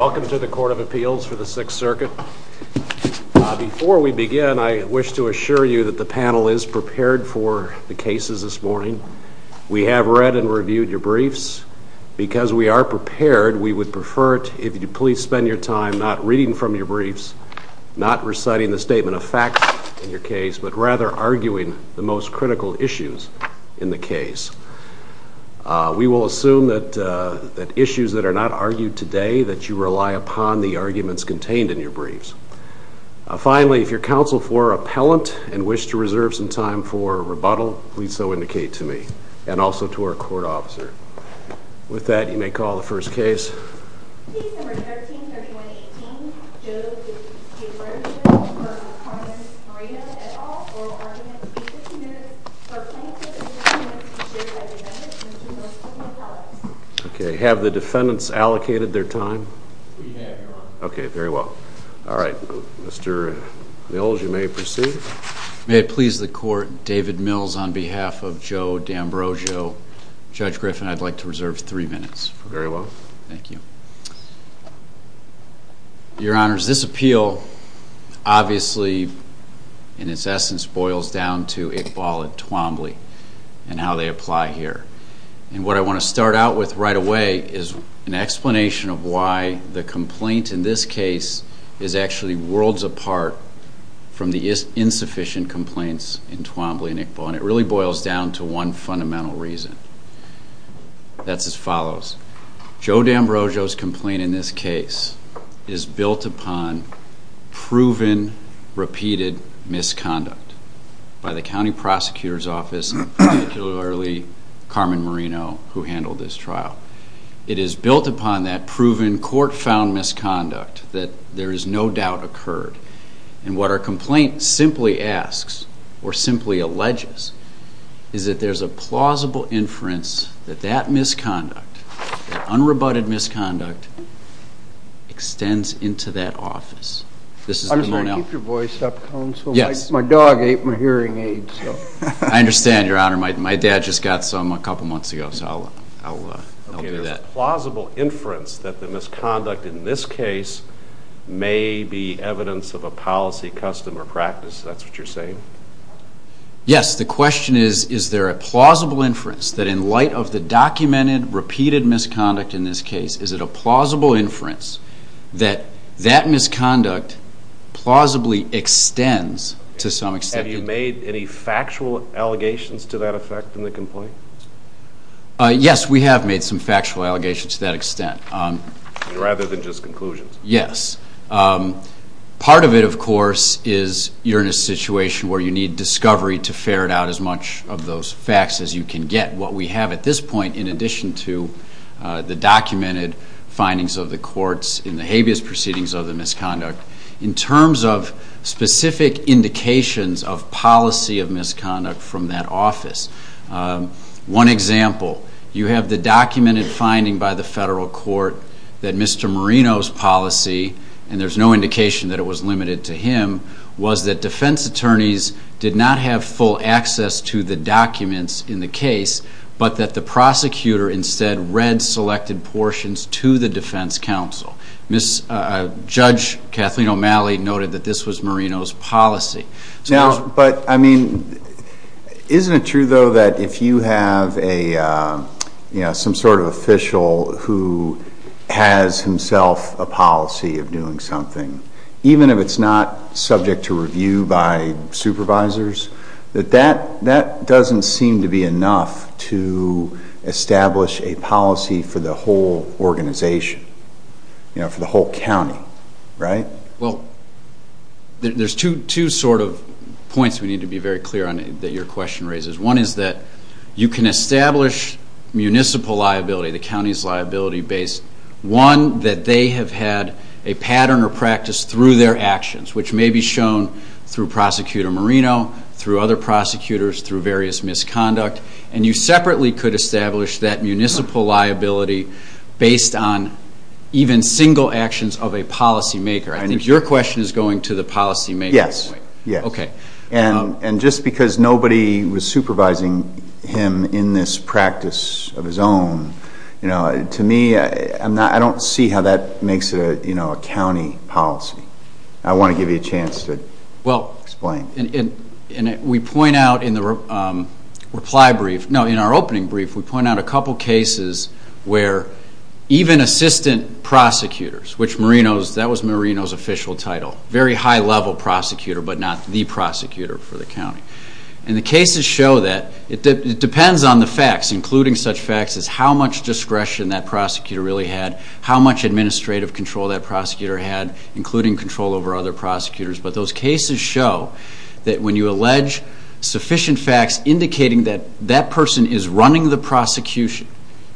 Welcome to the Court of Appeals for the Sixth Circuit. Before we begin, I wish to assure you that the panel is prepared for the cases this morning. We have read and reviewed your briefs. Because we are prepared, we would prefer it if you would please spend your time not reading from your briefs, not reciting the statement of facts in your case, but rather arguing the most critical issues in the case. We will assume that issues that are not argued today that you rely upon the arguments contained in your briefs. Finally, if your counsel for appellant and wish to reserve some time for rebuttal, please so indicate to me and also to our court officer. With that, you may call the first case. Case No. 13-3118, Joe D Ambrosio v. Carmen Marino, et al. Oral Argument. Please reserve two minutes for plaintiff and defendant to be served by defendants. Mr. Norquist, may I help? We have your honor. Thank you. Your honors, this appeal obviously in its essence boils down to Iqbal and Twombly and how they apply here. And what I want to start out with right away is an explanation of why the complaint in this case is actually worlds apart from the insufficient complaints in Twombly and Iqbal. And it really boils down to one fundamental reason. That's as follows. Joe D Ambrosio's complaint in this case is built upon proven, repeated misconduct by the county prosecutor's office, particularly Carmen Marino, who handled this trial. It is built upon that proven, court-found misconduct that there is no doubt occurred. And what our complaint simply asks, or simply alleges, is that there's a plausible inference that that misconduct, that unrebutted misconduct, extends into that office. I'm sorry, keep your voice up, counsel. My dog ate my hearing aids. I understand, your honor. My dad just got some a couple months ago, so I'll do that. There's a plausible inference that the misconduct in this case may be evidence of a policy, custom, or practice. That's what you're saying? Yes, the question is, is there a plausible inference that in light of the documented, repeated misconduct in this case, is it a plausible inference that that misconduct plausibly extends to some extent? Have you made any factual allegations to that effect in the complaint? Yes, we have made some factual allegations to that extent. Rather than just conclusions? Yes. Part of it, of course, is you're in a situation where you need discovery to ferret out as much of those facts as you can get. What we have at this point, in addition to the documented findings of the courts in the habeas proceedings of the misconduct, in terms of specific indications of policy of misconduct from that office, one example, you have the documented finding by the federal court that Mr. Marino's policy, and there's no indication that it was limited to him, was that defense attorneys did not have full access to the documents in the case, but that the prosecutor instead read selected portions to the defense counsel. Judge Kathleen O'Malley noted that this was Marino's policy. Isn't it true, though, that if you have some sort of official who has himself a policy of doing something, even if it's not subject to review by supervisors, that that doesn't seem to be enough to establish a policy for the whole organization, for the whole county, right? Well, there's two sort of points we need to be very clear on that your question raises. One is that you can establish municipal liability, the county's liability base, one, that they have had a pattern or practice through their actions, which may be shown through Prosecutor Marino, through other prosecutors, through various misconduct, and you separately could establish that municipal liability based on even single actions of a policymaker. I think your question is going to the policymaker. Yes. Okay. And just because nobody was supervising him in this practice of his own, to me, I don't see how that makes a county policy. I want to give you a chance to explain. Well, and we point out in the reply brief, no, in our opening brief, we point out a couple of cases where even assistant prosecutors, which Marino's, that was Marino's official title, very high-level prosecutor, but not the prosecutor for the county. And the cases show that it depends on the facts, including such facts as how much discretion that prosecutor really had, how much administrative control that prosecutor had, including control over other prosecutors. But those cases show that when you allege sufficient facts indicating that that person is running the prosecution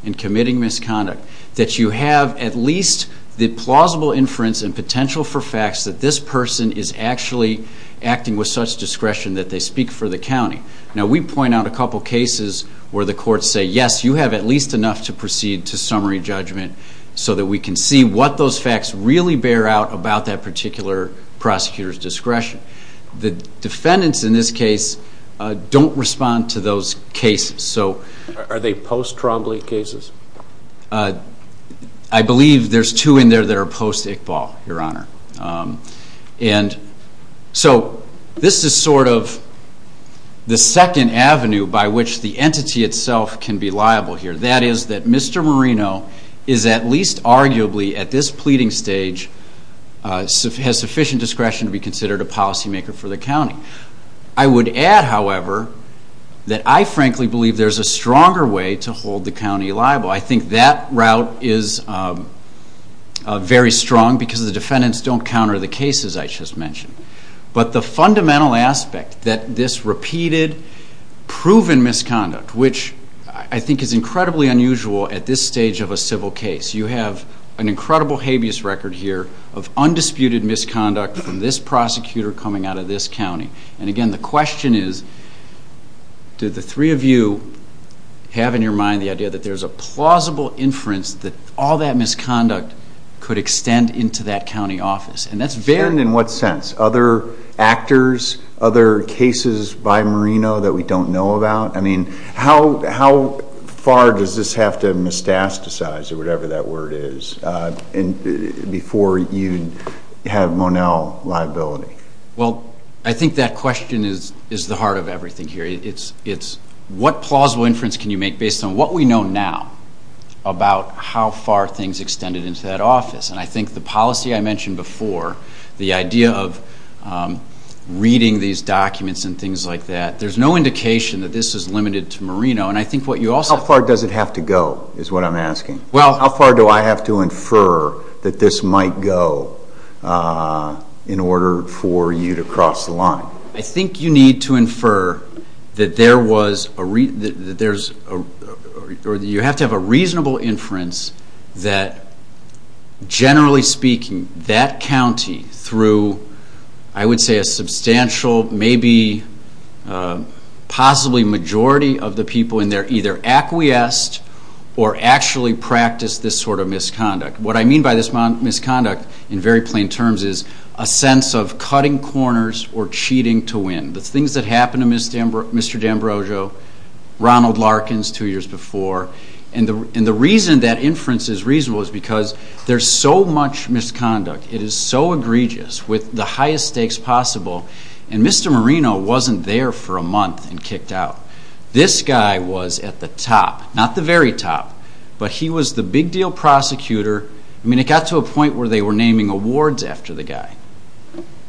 and committing misconduct, that you have at least the plausible inference and potential for facts that this person is actually acting with such discretion that they speak for the county. Now, we point out a couple of cases where the courts say, yes, you have at least enough to proceed to summary judgment so that we can see what those facts really bear out about that particular prosecutor's discretion. The defendants in this case don't respond to those cases. Are they post-Trombley cases? I believe there's two in there that are post-Iqbal, Your Honor. And so this is sort of the second avenue by which the entity itself can be liable here. That is that Mr. Marino is at least arguably, at this pleading stage, has sufficient discretion to be considered a policymaker for the county. I would add, however, that I frankly believe there's a stronger way to hold the county liable. I think that route is very strong because the defendants don't counter the cases I just mentioned. But the fundamental aspect that this repeated, proven misconduct, which I think is incredibly unusual at this stage of a civil case. You have an incredible habeas record here of undisputed misconduct from this prosecutor coming out of this county. And again, the question is, do the three of you have in your mind the idea that there's a plausible inference that all that misconduct could extend into that county office? Extend in what sense? Other actors? Other cases by Marino that we don't know about? I mean, how far does this have to moustasticize, or whatever that word is, before you have Monell liability? Well, I think that question is the heart of everything here. It's what plausible inference can you make based on what we know now about how far things extended into that office? And I think the policy I mentioned before, the idea of reading these documents and things like that, there's no indication that this is limited to Marino. How far does it have to go, is what I'm asking? How far do I have to infer that this might go in order for you to cross the line? I think you need to infer that you have to have a reasonable inference that, generally speaking, that county, through I would say a substantial, maybe possibly majority of the people in there, either acquiesced or actually practiced this sort of misconduct. What I mean by this misconduct in very plain terms is a sense of cutting corners or cheating to win. The things that happened to Mr. D'Ambrosio, Ronald Larkins two years before, and the reason that inference is reasonable is because there's so much misconduct, it is so egregious with the highest stakes possible, and Mr. Marino wasn't there for a month and kicked out. This guy was at the top, not the very top, but he was the big deal prosecutor. I mean, it got to a point where they were naming awards after the guy.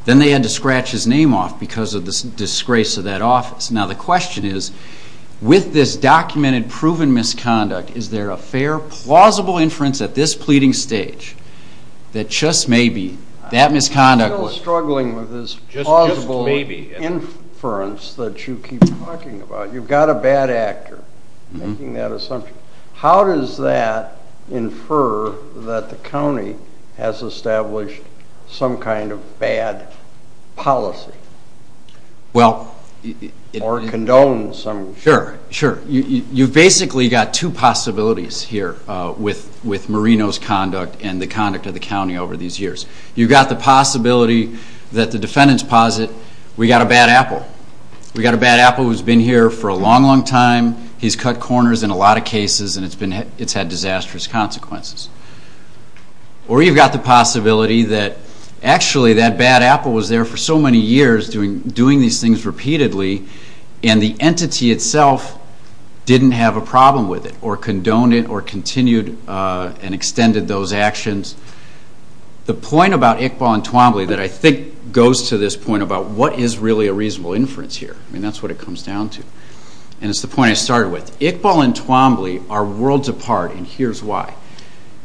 Then they had to scratch his name off because of the disgrace of that office. Now the question is, with this documented, proven misconduct, is there a fair, plausible inference at this pleading stage that just maybe that misconduct was... But you've got a bad actor making that assumption. How does that infer that the county has established some kind of bad policy or condoned some... Sure, sure. You've basically got two possibilities here with Marino's conduct and the conduct of the county over these years. You've got the possibility that the defendants posit, we've got a bad apple. We've got a bad apple who's been here for a long, long time. He's cut corners in a lot of cases and it's had disastrous consequences. Or you've got the possibility that actually that bad apple was there for so many years doing these things repeatedly and the entity itself didn't have a problem with it or condoned it or continued and extended those actions. The point about Iqbal and Twombly that I think goes to this point about what is really a reasonable inference here. That's what it comes down to. It's the point I started with. Iqbal and Twombly are worlds apart and here's why.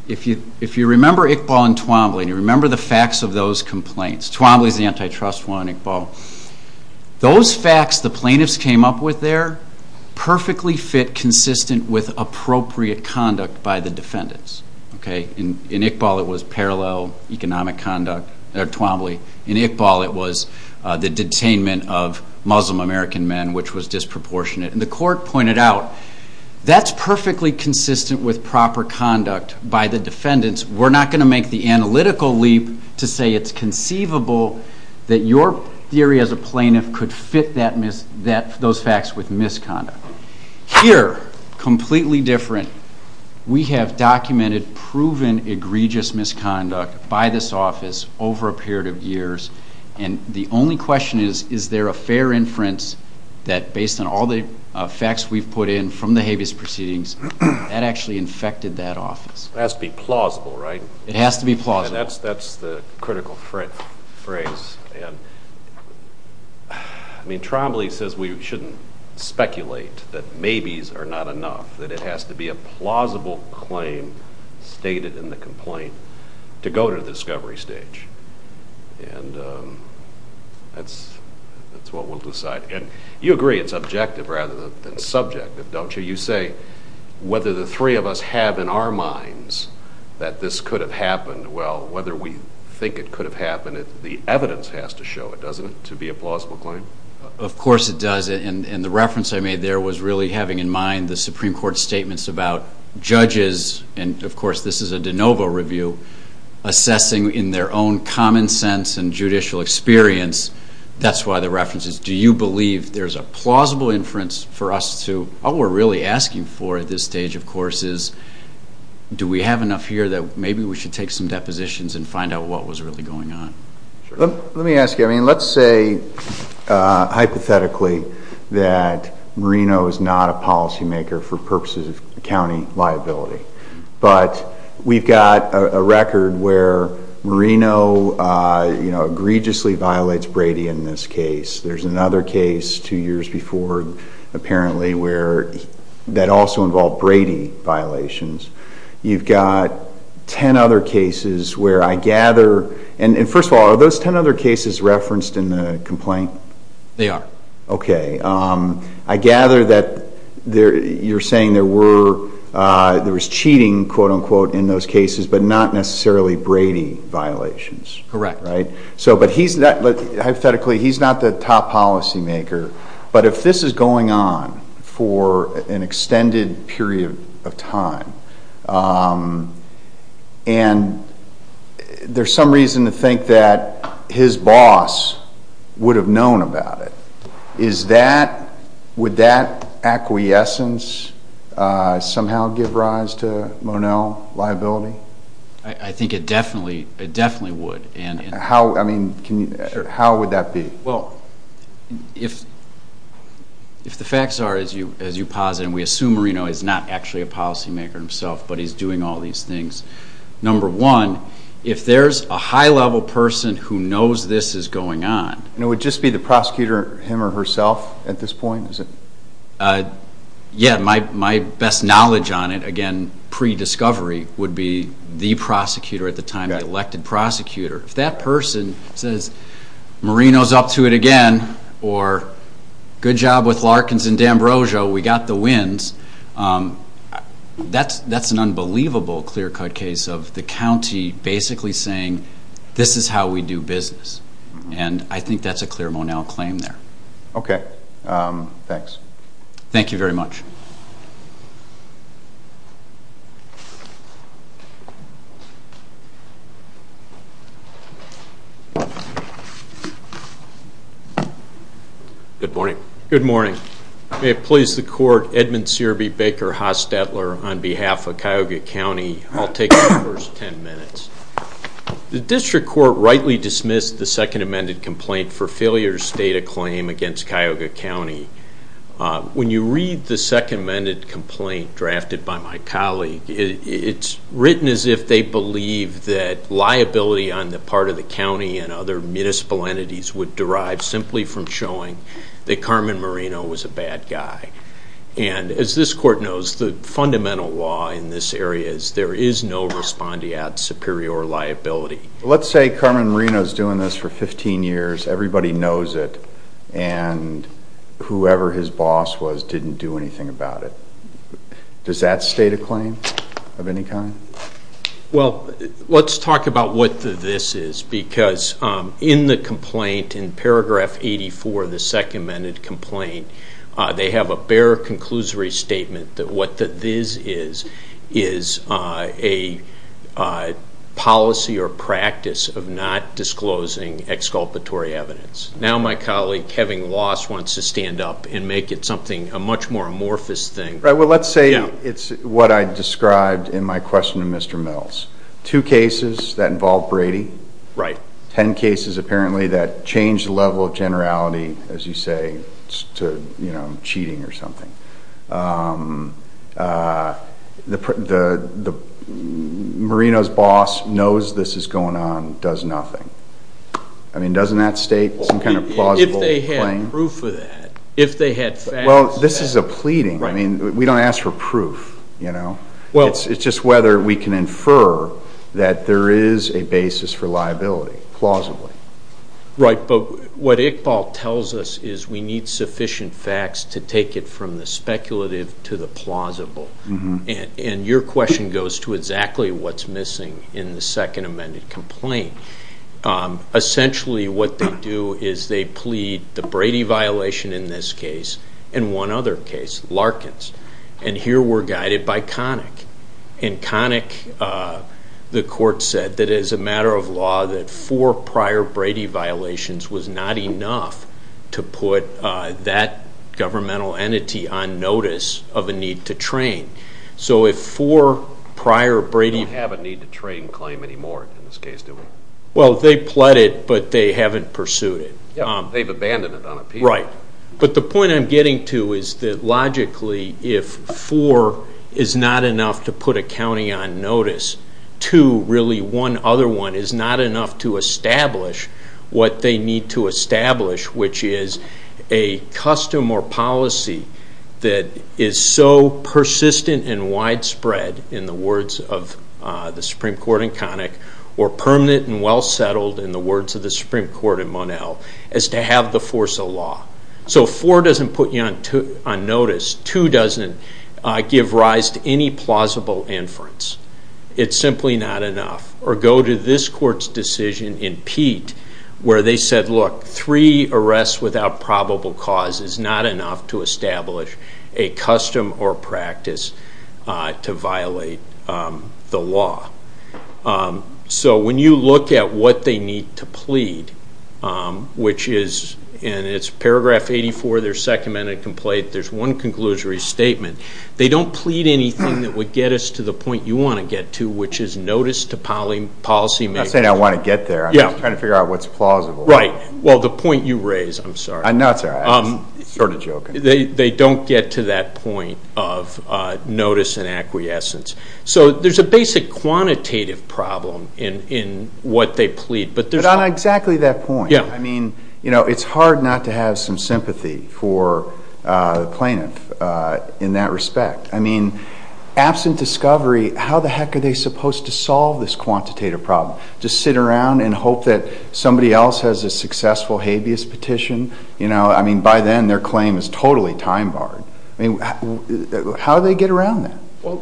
If you remember Iqbal and Twombly and you remember the facts of those complaints, Twombly's the antitrust one, Iqbal. Those facts the plaintiffs came up with there perfectly fit consistent with appropriate conduct by the defendants. In Iqbal it was parallel economic conduct, or Twombly. In Iqbal it was the detainment of Muslim American men which was disproportionate. And the court pointed out that's perfectly consistent with proper conduct by the defendants. We're not going to make the analytical leap to say it's conceivable that your theory as a plaintiff could fit those facts with misconduct. Here, completely different, we have documented proven egregious misconduct by this office over a period of years. And the only question is, is there a fair inference that based on all the facts we've put in from the habeas proceedings, that actually infected that office? It has to be plausible, right? It has to be plausible. That's the critical phrase. And, I mean, Twombly says we shouldn't speculate that maybes are not enough. That it has to be a plausible claim stated in the complaint to go to the discovery stage. And that's what we'll decide. And you agree it's objective rather than subjective, don't you? You say whether the three of us have in our minds that this could have happened, well, whether we think it could have happened, the evidence has to show it, doesn't it, to be a plausible claim? Of course it does. And the reference I made there was really having in mind the Supreme Court statements about judges, and of course this is a de novo review, assessing in their own common sense and judicial experience. That's why the reference is, do you believe there's a plausible inference for us to, All we're really asking for at this stage, of course, is do we have enough here that maybe we should take some depositions and find out what was really going on. Let me ask you, I mean, let's say hypothetically that Marino is not a policymaker for purposes of county liability. But we've got a record where Marino, you know, egregiously violates Brady in this case. There's another case two years before, apparently, where that also involved Brady violations. You've got ten other cases where I gather, and first of all, are those ten other cases referenced in the complaint? They are. Okay. I gather that you're saying there was cheating, quote, unquote, in those cases, but not necessarily Brady violations. Correct. But he's not, hypothetically, he's not the top policymaker. But if this is going on for an extended period of time, and there's some reason to think that his boss would have known about it, is that, would that acquiescence somehow give rise to Monell liability? I think it definitely would. How, I mean, how would that be? Well, if the facts are, as you posited, and we assume Marino is not actually a policymaker himself, but he's doing all these things, number one, if there's a high-level person who knows this is going on. And it would just be the prosecutor, him or herself, at this point, is it? Yeah, my best knowledge on it, again, pre-discovery, would be the prosecutor at the time, the elected prosecutor. If that person says, Marino's up to it again, or good job with Larkins and D'Ambrosio, we got the wins, that's an unbelievable clear-cut case of the county basically saying, this is how we do business. And I think that's a clear Monell claim there. Okay, thanks. Thank you very much. Good morning. Good morning. May it please the Court, Edmund Searby Baker, Haas-Stetler, on behalf of Cuyahoga County, I'll take the first 10 minutes. The District Court rightly dismissed the Second Amended Complaint for Failure State of Claim against Cuyahoga County. When you read the Second Amended Complaint drafted by my colleague, it's written as if they believe that liability on the part of the county and other municipal entities would derive simply from showing that Carmen Marino was a bad guy. And as this Court knows, the fundamental law in this area is there is no respondeat superior liability. Let's say Carmen Marino's doing this for 15 years, everybody knows it, and whoever his boss was didn't do anything about it. Does that state a claim of any kind? Well, let's talk about what this is, because in the complaint, in paragraph 84 of the Second Amended Complaint, they have a bare conclusory statement that what this is is a policy or practice of not disclosing exculpatory evidence. Now my colleague, having lost, wants to stand up and make it something, a much more amorphous thing. Well, let's say it's what I described in my question to Mr. Mills. Two cases that involve Brady. Right. Ten cases, apparently, that change the level of generality, as you say, to cheating or something. Marino's boss knows this is going on, does nothing. I mean, doesn't that state some kind of plausible claim? If they had proof of that, if they had facts of that. Well, this is a pleading. Right. I mean, we don't ask for proof, you know. It's just whether we can infer that there is a basis for liability, plausibly. Right, but what Iqbal tells us is we need sufficient facts to take it from the speculative to the plausible. And your question goes to exactly what's missing in the Second Amended Complaint. Essentially, what they do is they plead the Brady violation in this case and one other case, Larkins. And here we're guided by Connick. And Connick, the court said, that it is a matter of law that four prior Brady violations was not enough to put that governmental entity on notice of a need to train. So if four prior Brady- They don't have a need to train claim anymore in this case, do they? Well, they pleaded, but they haven't pursued it. They've abandoned it on appeal. Right. But the point I'm getting to is that logically if four is not enough to put a county on notice, two, really one other one, is not enough to establish what they need to establish, which is a custom or policy that is so persistent and widespread in the words of the Supreme Court in Connick or permanent and well-settled in the words of the Supreme Court in Monell, is to have the force of law. So four doesn't put you on notice. Two doesn't give rise to any plausible inference. It's simply not enough. Or go to this court's decision in Pete where they said, look, three arrests without probable cause is not enough to establish a custom or practice to violate the law. So when you look at what they need to plead, which is in paragraph 84 of their second amended complaint, there's one conclusory statement. They don't plead anything that would get us to the point you want to get to, which is notice to policy makers. I'm not saying I want to get there. I'm just trying to figure out what's plausible. Right. Well, the point you raise, I'm sorry. No, it's all right. I'm sort of joking. They don't get to that point of notice and acquiescence. So there's a basic quantitative problem in what they plead. But on exactly that point, I mean, you know, it's hard not to have some sympathy for the plaintiff in that respect. I mean, absent discovery, how the heck are they supposed to solve this quantitative problem? Just sit around and hope that somebody else has a successful habeas petition? You know, I mean, by then their claim is totally time barred. I mean, how do they get around that? Well,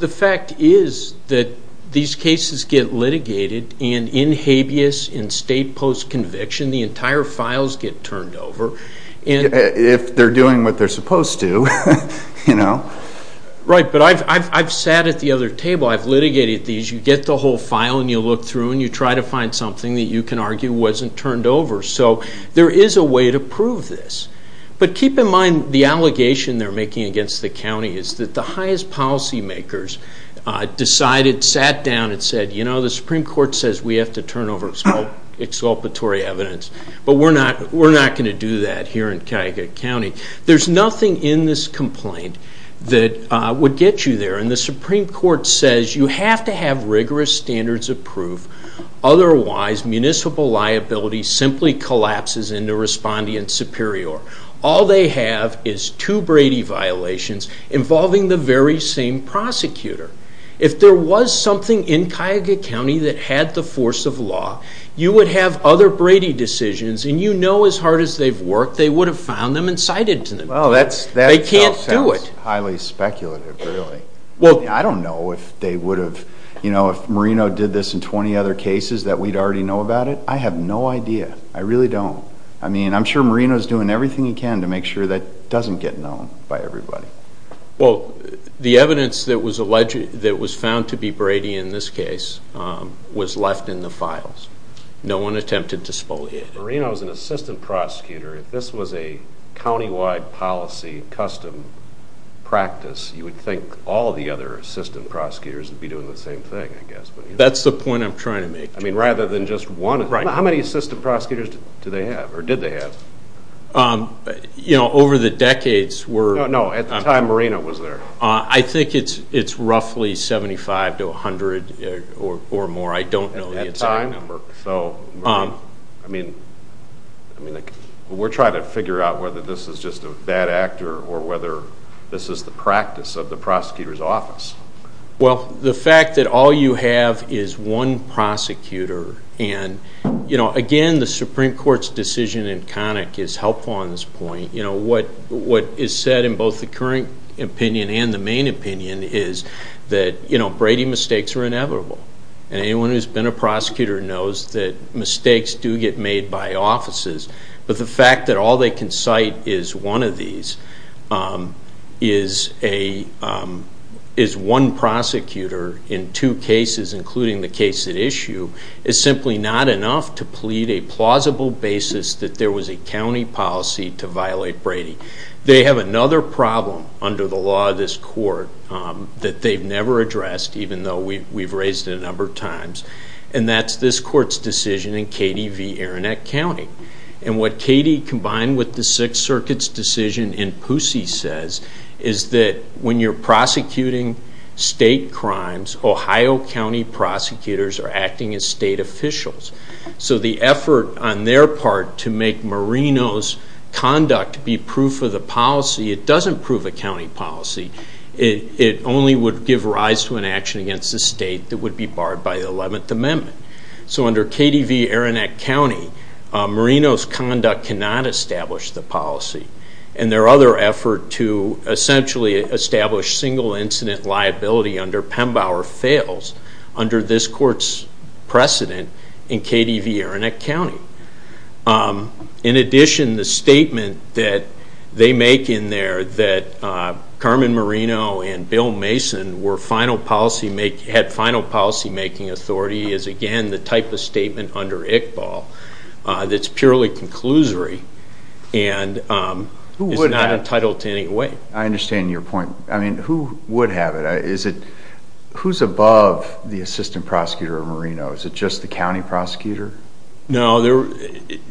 the fact is that these cases get litigated. And in habeas, in state post-conviction, the entire files get turned over. If they're doing what they're supposed to, you know. Right. But I've sat at the other table. I've litigated these. You get the whole file and you look through and you try to find something that you can argue wasn't turned over. So there is a way to prove this. But keep in mind the allegation they're making against the county is that the highest policymakers decided, sat down and said, you know, the Supreme Court says we have to turn over exculpatory evidence. But we're not going to do that here in Cuyahoga County. There's nothing in this complaint that would get you there. And the Supreme Court says you have to have rigorous standards of proof. Otherwise, municipal liability simply collapses into respondeant superior. All they have is two Brady violations involving the very same prosecutor. If there was something in Cuyahoga County that had the force of law, you would have other Brady decisions, and you know as hard as they've worked, they would have found them and cited to them. They can't do it. That sounds highly speculative, really. I don't know if they would have, you know, if Marino did this in 20 other cases that we'd already know about it. I have no idea. I really don't. I mean, I'm sure Marino's doing everything he can to make sure that doesn't get known by everybody. Well, the evidence that was found to be Brady in this case was left in the files. No one attempted to spoliation. Marino's an assistant prosecutor. If this was a countywide policy custom practice, you would think all the other assistant prosecutors would be doing the same thing, I guess. That's the point I'm trying to make. I mean, rather than just one. How many assistant prosecutors do they have, or did they have? You know, over the decades, we're No, no, at the time Marino was there. I think it's roughly 75 to 100 or more. I don't know the exact number. I mean, we're trying to figure out whether this is just a bad act or whether this is the practice of the prosecutor's office. Well, the fact that all you have is one prosecutor and, you know, again, the Supreme Court's decision in Connick is helpful on this point. You know, what is said in both the current opinion and the main opinion is that, you know, Brady mistakes are inevitable. And anyone who's been a prosecutor knows that mistakes do get made by offices. But the fact that all they can cite is one of these, is one prosecutor in two cases, including the case at issue, is simply not enough to plead a plausible basis that there was a county policy to violate Brady. They have another problem under the law of this court that they've never addressed, even though we've raised it a number of times, and that's this court's decision in Katie v. Aronet County. And what Katie, combined with the Sixth Circuit's decision in Pusey, says is that when you're prosecuting state crimes, Ohio County prosecutors are acting as state officials. So the effort on their part to make Marino's conduct be proof of the policy, it doesn't prove a county policy. It only would give rise to an action against the state that would be barred by the 11th Amendment. So under Katie v. Aronet County, Marino's conduct cannot establish the policy. And their other effort to essentially establish single incident liability under Pembauer fails under this court's precedent in Katie v. Aronet County. In addition, the statement that they make in there that Carmen Marino and Bill Mason had final policymaking authority is, again, the type of statement under Iqbal that's purely conclusory and is not entitled to any weight. I understand your point. I mean, who would have it? Who's above the assistant prosecutor of Marino? Is it just the county prosecutor? No.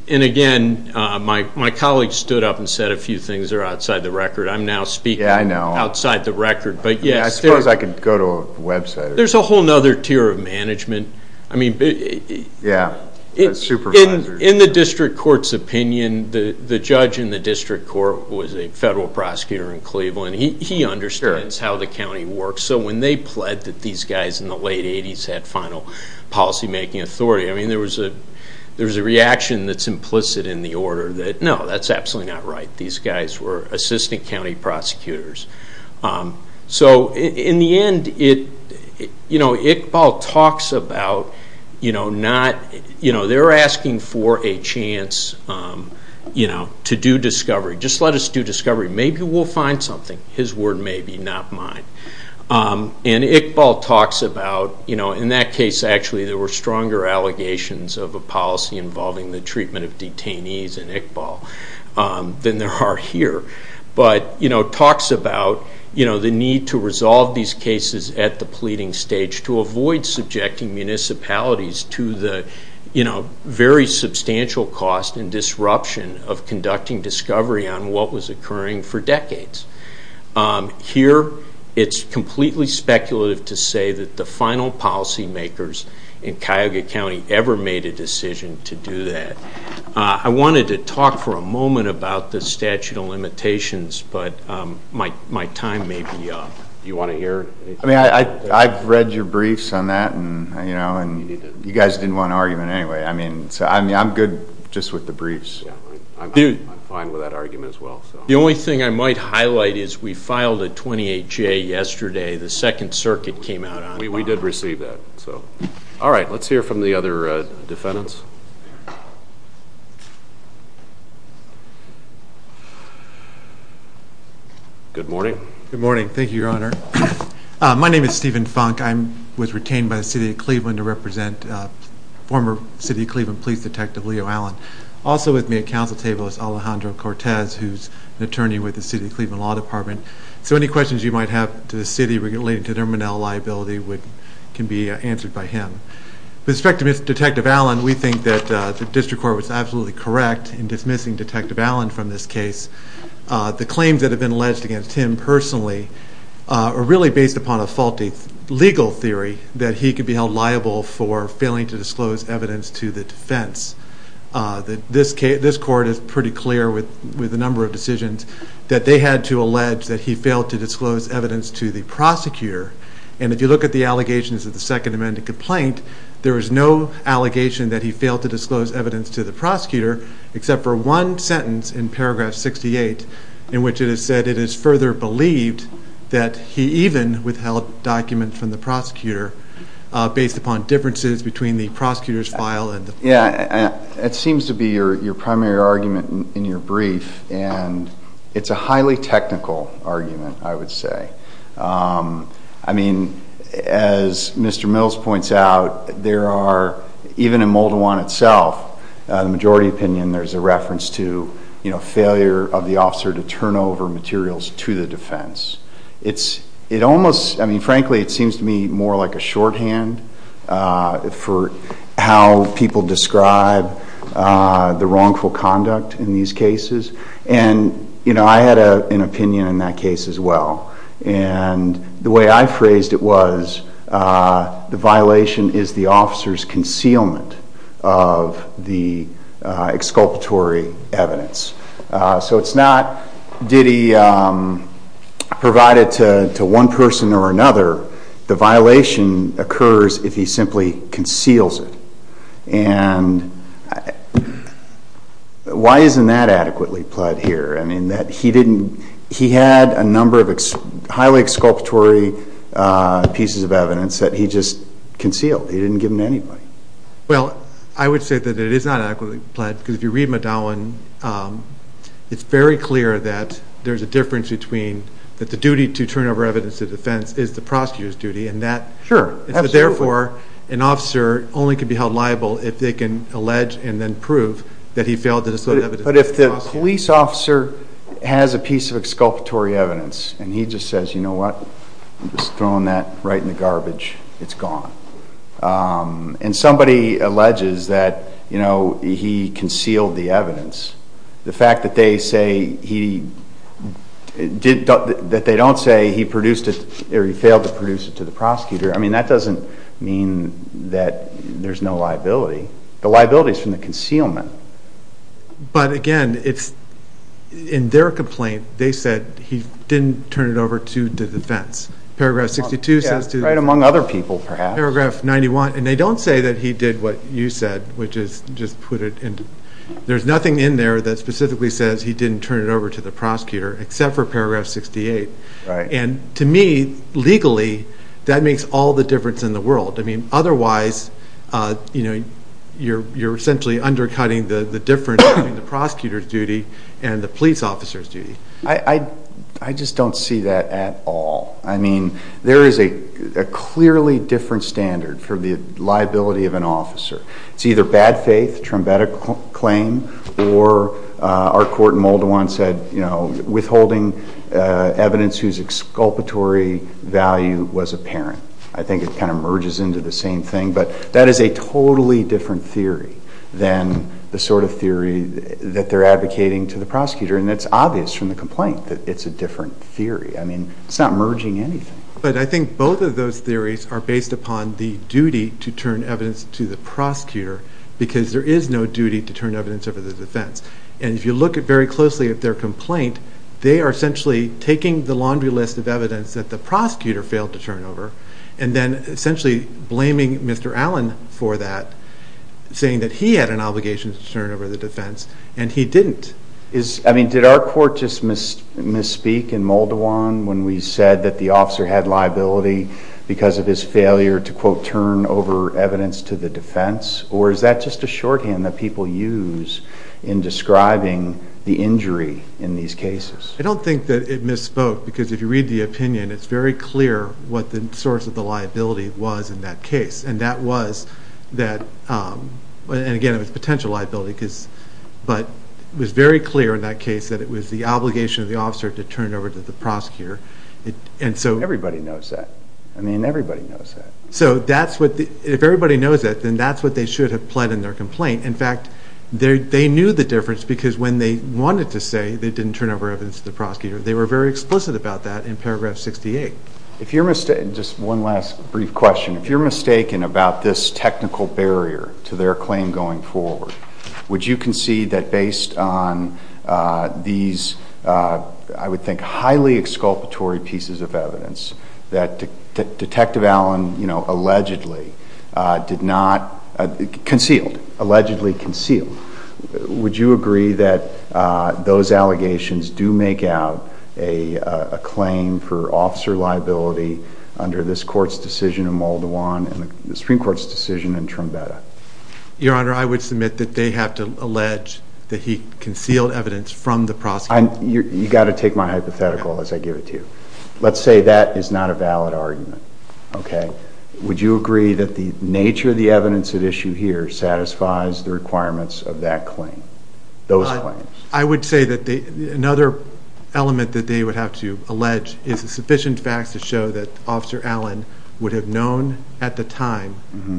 And, again, my colleague stood up and said a few things that are outside the record. I'm now speaking outside the record. Yeah, I know. I suppose I could go to a website. There's a whole other tier of management. Yeah, supervisors. In the district court's opinion, the judge in the district court was a federal prosecutor in Cleveland. He understands how the county works. So when they pled that these guys in the late 80s had final policymaking authority, I mean, there was a reaction that's implicit in the order that, no, that's absolutely not right. These guys were assistant county prosecutors. So, in the end, Iqbal talks about they're asking for a chance to do discovery. Just let us do discovery. Maybe we'll find something. His word, maybe, not mine. And Iqbal talks about, in that case, actually, there were stronger allegations of a policy involving the treatment of detainees in Iqbal than there are here. But he talks about the need to resolve these cases at the pleading stage to avoid subjecting municipalities to the very substantial cost and disruption of conducting discovery on what was occurring for decades. Here, it's completely speculative to say that the final policymakers in Cuyahoga County ever made a decision to do that. I wanted to talk for a moment about the statute of limitations, but my time may be up. Do you want to hear anything? I mean, I've read your briefs on that, and you guys didn't want an argument anyway. I mean, I'm good just with the briefs. I'm fine with that argument as well. The only thing I might highlight is we filed a 28-J yesterday. The Second Circuit came out on it. We did receive that. All right. Let's hear from the other defendants. Good morning. Good morning. Thank you, Your Honor. My name is Stephen Funk. I was retained by the City of Cleveland to represent former City of Cleveland Police Detective Leo Allen. Also with me at council table is Alejandro Cortez, who's an attorney with the City of Cleveland Law Department. So any questions you might have to the city relating to their Monell liability can be answered by him. With respect to Detective Allen, we think that the district court was absolutely correct in dismissing Detective Allen from this case. The claims that have been alleged against him personally are really based upon a faulty legal theory that he could be held liable for failing to disclose evidence to the defense. This court is pretty clear with a number of decisions that they had to allege that he failed to disclose evidence to the prosecutor. And if you look at the allegations of the Second Amendment complaint, there is no allegation that he failed to disclose evidence to the prosecutor except for one sentence in paragraph 68 in which it is said it is further believed that he even withheld documents from the prosecutor based upon differences between the prosecutor's file and the... Yeah, it seems to be your primary argument in your brief, and it's a highly technical argument, I would say. I mean, as Mr. Mills points out, there are, even in Moldawan itself, the majority opinion, there's a reference to, you know, failure of the officer to turn over materials to the defense. It almost, I mean, frankly, it seems to me more like a shorthand for how people describe the wrongful conduct in these cases. And, you know, I had an opinion in that case as well. And the way I phrased it was the violation is the officer's concealment of the exculpatory evidence. So it's not did he provide it to one person or another. The violation occurs if he simply conceals it. And why isn't that adequately applied here? I mean, that he didn't, he had a number of highly exculpatory pieces of evidence that he just concealed. He didn't give them to anybody. Well, I would say that it is not adequately applied because if you read Moldawan, it's very clear that there's a difference between that the duty to turn over evidence to the defense is the prosecutor's duty and that... Sure, absolutely. Therefore, an officer only can be held liable if they can allege and then prove that he failed to disclose evidence to the prosecutor. But if the police officer has a piece of exculpatory evidence and he just says, you know what, I'm just throwing that right in the garbage, it's gone. And somebody alleges that, you know, he concealed the evidence. The fact that they say he did, that they don't say he produced it or he failed to produce it to the prosecutor, I mean, that doesn't mean that there's no liability. The liability is from the concealment. But, again, in their complaint, they said he didn't turn it over to the defense. Paragraph 62 says to the defense. Right among other people, perhaps. Paragraph 91. And they don't say that he did what you said, which is just put it in. There's nothing in there that specifically says he didn't turn it over to the prosecutor except for Paragraph 68. And to me, legally, that makes all the difference in the world. I mean, otherwise, you know, you're essentially undercutting the difference between the prosecutor's duty and the police officer's duty. I just don't see that at all. I mean, there is a clearly different standard for the liability of an officer. It's either bad faith, a triumvetic claim, or our court in Moldawan said, you know, withholding evidence whose exculpatory value was apparent. I think it kind of merges into the same thing. But that is a totally different theory than the sort of theory that they're advocating to the prosecutor. And it's obvious from the complaint that it's a different theory. I mean, it's not merging anything. But I think both of those theories are based upon the duty to turn evidence to the prosecutor because there is no duty to turn evidence over to the defense. And if you look very closely at their complaint, they are essentially taking the laundry list of evidence that the prosecutor failed to turn over and then essentially blaming Mr. Allen for that, saying that he had an obligation to turn over the defense, and he didn't. I mean, did our court just misspeak in Moldawan when we said that the officer had liability because of his failure to, quote, turn over evidence to the defense? Or is that just a shorthand that people use in describing the injury in these cases? I don't think that it misspoke because if you read the opinion, it's very clear what the source of the liability was in that case. And that was that, and again, it was potential liability, but it was very clear in that case that it was the obligation of the officer to turn it over to the prosecutor. Everybody knows that. I mean, everybody knows that. So if everybody knows that, then that's what they should have pled in their complaint. In fact, they knew the difference because when they wanted to say they didn't turn over evidence to the prosecutor, they were very explicit about that in paragraph 68. Just one last brief question. If you're mistaken about this technical barrier to their claim going forward, would you concede that based on these, I would think, highly exculpatory pieces of evidence, that Detective Allen allegedly concealed, allegedly concealed, would you agree that those allegations do make out a claim for officer liability under this Court's decision in Moldawan and the Supreme Court's decision in Trumbetta? Your Honor, I would submit that they have to allege that he concealed evidence from the prosecutor. You've got to take my hypothetical as I give it to you. Let's say that is not a valid argument. Would you agree that the nature of the evidence at issue here satisfies the requirements of that claim, those claims? I would say that another element that they would have to allege is sufficient facts to show that Officer Allen would have known at the time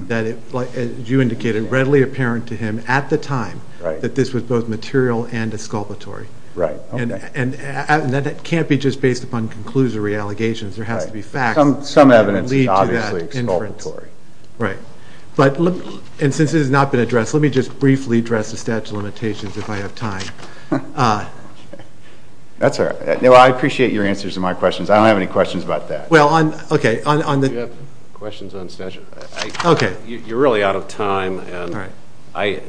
that, as you indicated, readily apparent to him at the time that this was both material and exculpatory. Right. Okay. And that can't be just based upon conclusory allegations. There has to be facts that can lead to that inference. Some evidence is obviously exculpatory. Right. And since it has not been addressed, let me just briefly address the statute of limitations if I have time. That's all right. I appreciate your answers to my questions. I don't have any questions about that. Well, okay. Do you have questions on statute? Okay. You're really out of time, and I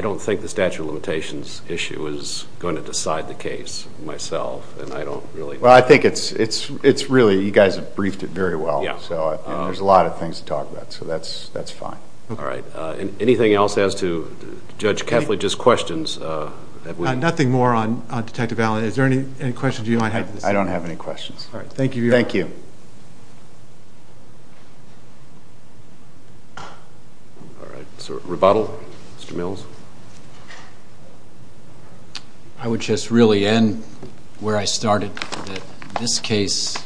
don't think the statute of limitations issue is going to decide the case myself, and I don't really know. Well, I think it's really you guys have briefed it very well, and there's a lot of things to talk about, so that's fine. All right. Anything else as to Judge Kethledge's questions? Nothing more on Detective Allen. Is there any questions you might have? I don't have any questions. All right. Thank you. Thank you. All right. So rebuttal? Mr. Mills? I would just really end where I started, that this case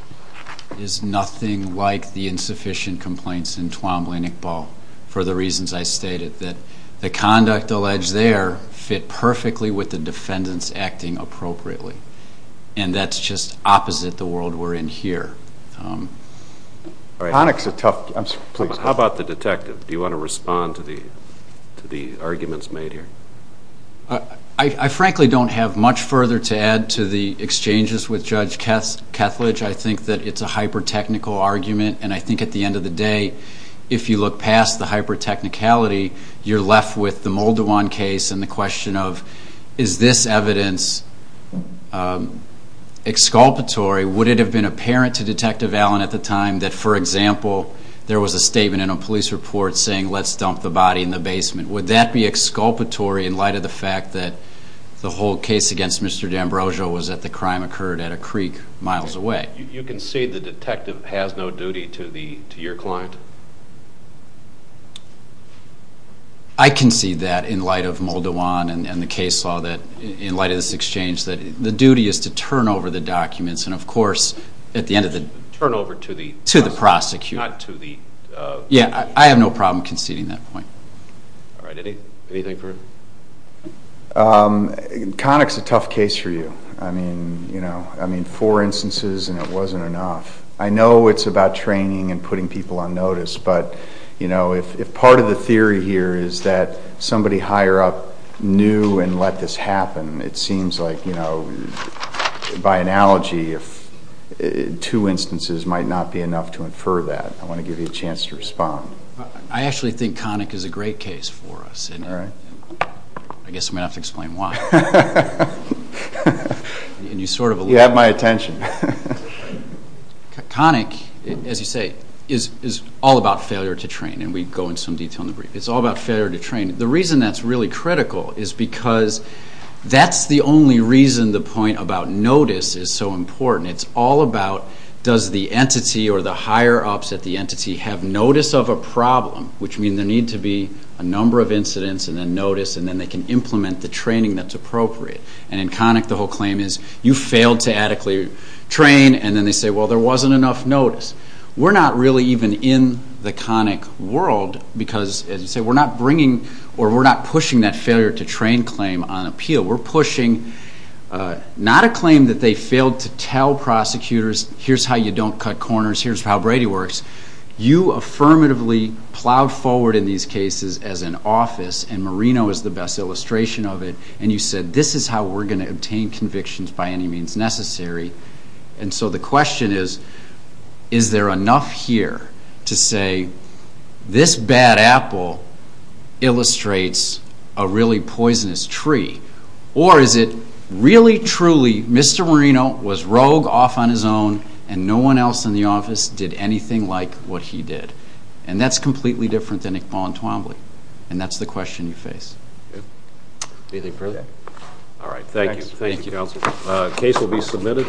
is nothing like the insufficient complaints in Twombly-Nickball for the reasons I stated, that the conduct alleged there fit perfectly with the defendants acting appropriately, and that's just opposite the world we're in here. How about the detective? Do you want to respond to the arguments made here? I frankly don't have much further to add to the exchanges with Judge Kethledge. I think that it's a hyper-technical argument, and I think at the end of the day, if you look past the hyper-technicality, you're left with the Moldawan case and the question of is this evidence exculpatory? Would it have been apparent to Detective Allen at the time that, for example, there was a statement in a police report saying let's dump the body in the basement? Would that be exculpatory in light of the fact that the whole case against Mr. D'Ambrosio was that the crime occurred at a creek miles away? You concede the detective has no duty to your client? I concede that in light of Moldawan and the case law, in light of this exchange, the duty is to turn over the documents and, of course, at the end of the day, to the prosecutor. I have no problem conceding that point. Connick's a tough case for you. Four instances and it wasn't enough. I know it's about training and putting people on notice, but if part of the theory here is that somebody higher up knew and let this happen, it seems like, by analogy, two instances might not be enough to infer that. I want to give you a chance to respond. I actually think Connick is a great case for us. I guess I'm going to have to explain why. You have my attention. Connick, as you say, is all about failure to train, and we go into some detail in the brief. It's all about failure to train. The reason that's really critical is because that's the only reason the point about notice is so important. It's all about does the entity or the higher-ups at the entity have notice of a problem, which means there needs to be a number of incidents and a notice, and then they can implement the training that's appropriate. In Connick, the whole claim is you failed to adequately train, and then they say, well, there wasn't enough notice. We're not really even in the Connick world because, as you say, we're not pushing that failure to train claim on appeal. We're pushing not a claim that they failed to tell prosecutors, here's how you don't cut corners, here's how Brady works. You affirmatively plowed forward in these cases as an office, and Marino is the best illustration of it, and you said this is how we're going to obtain convictions by any means necessary. And so the question is, is there enough here to say this bad apple illustrates a really poisonous tree, or is it really, truly Mr. Marino was rogue off on his own and no one else in the office did anything like what he did? And that's completely different than Iqbal and Twombly, and that's the question you face. Anything further? All right. Thank you. Thank you, counsel. The case will be submitted.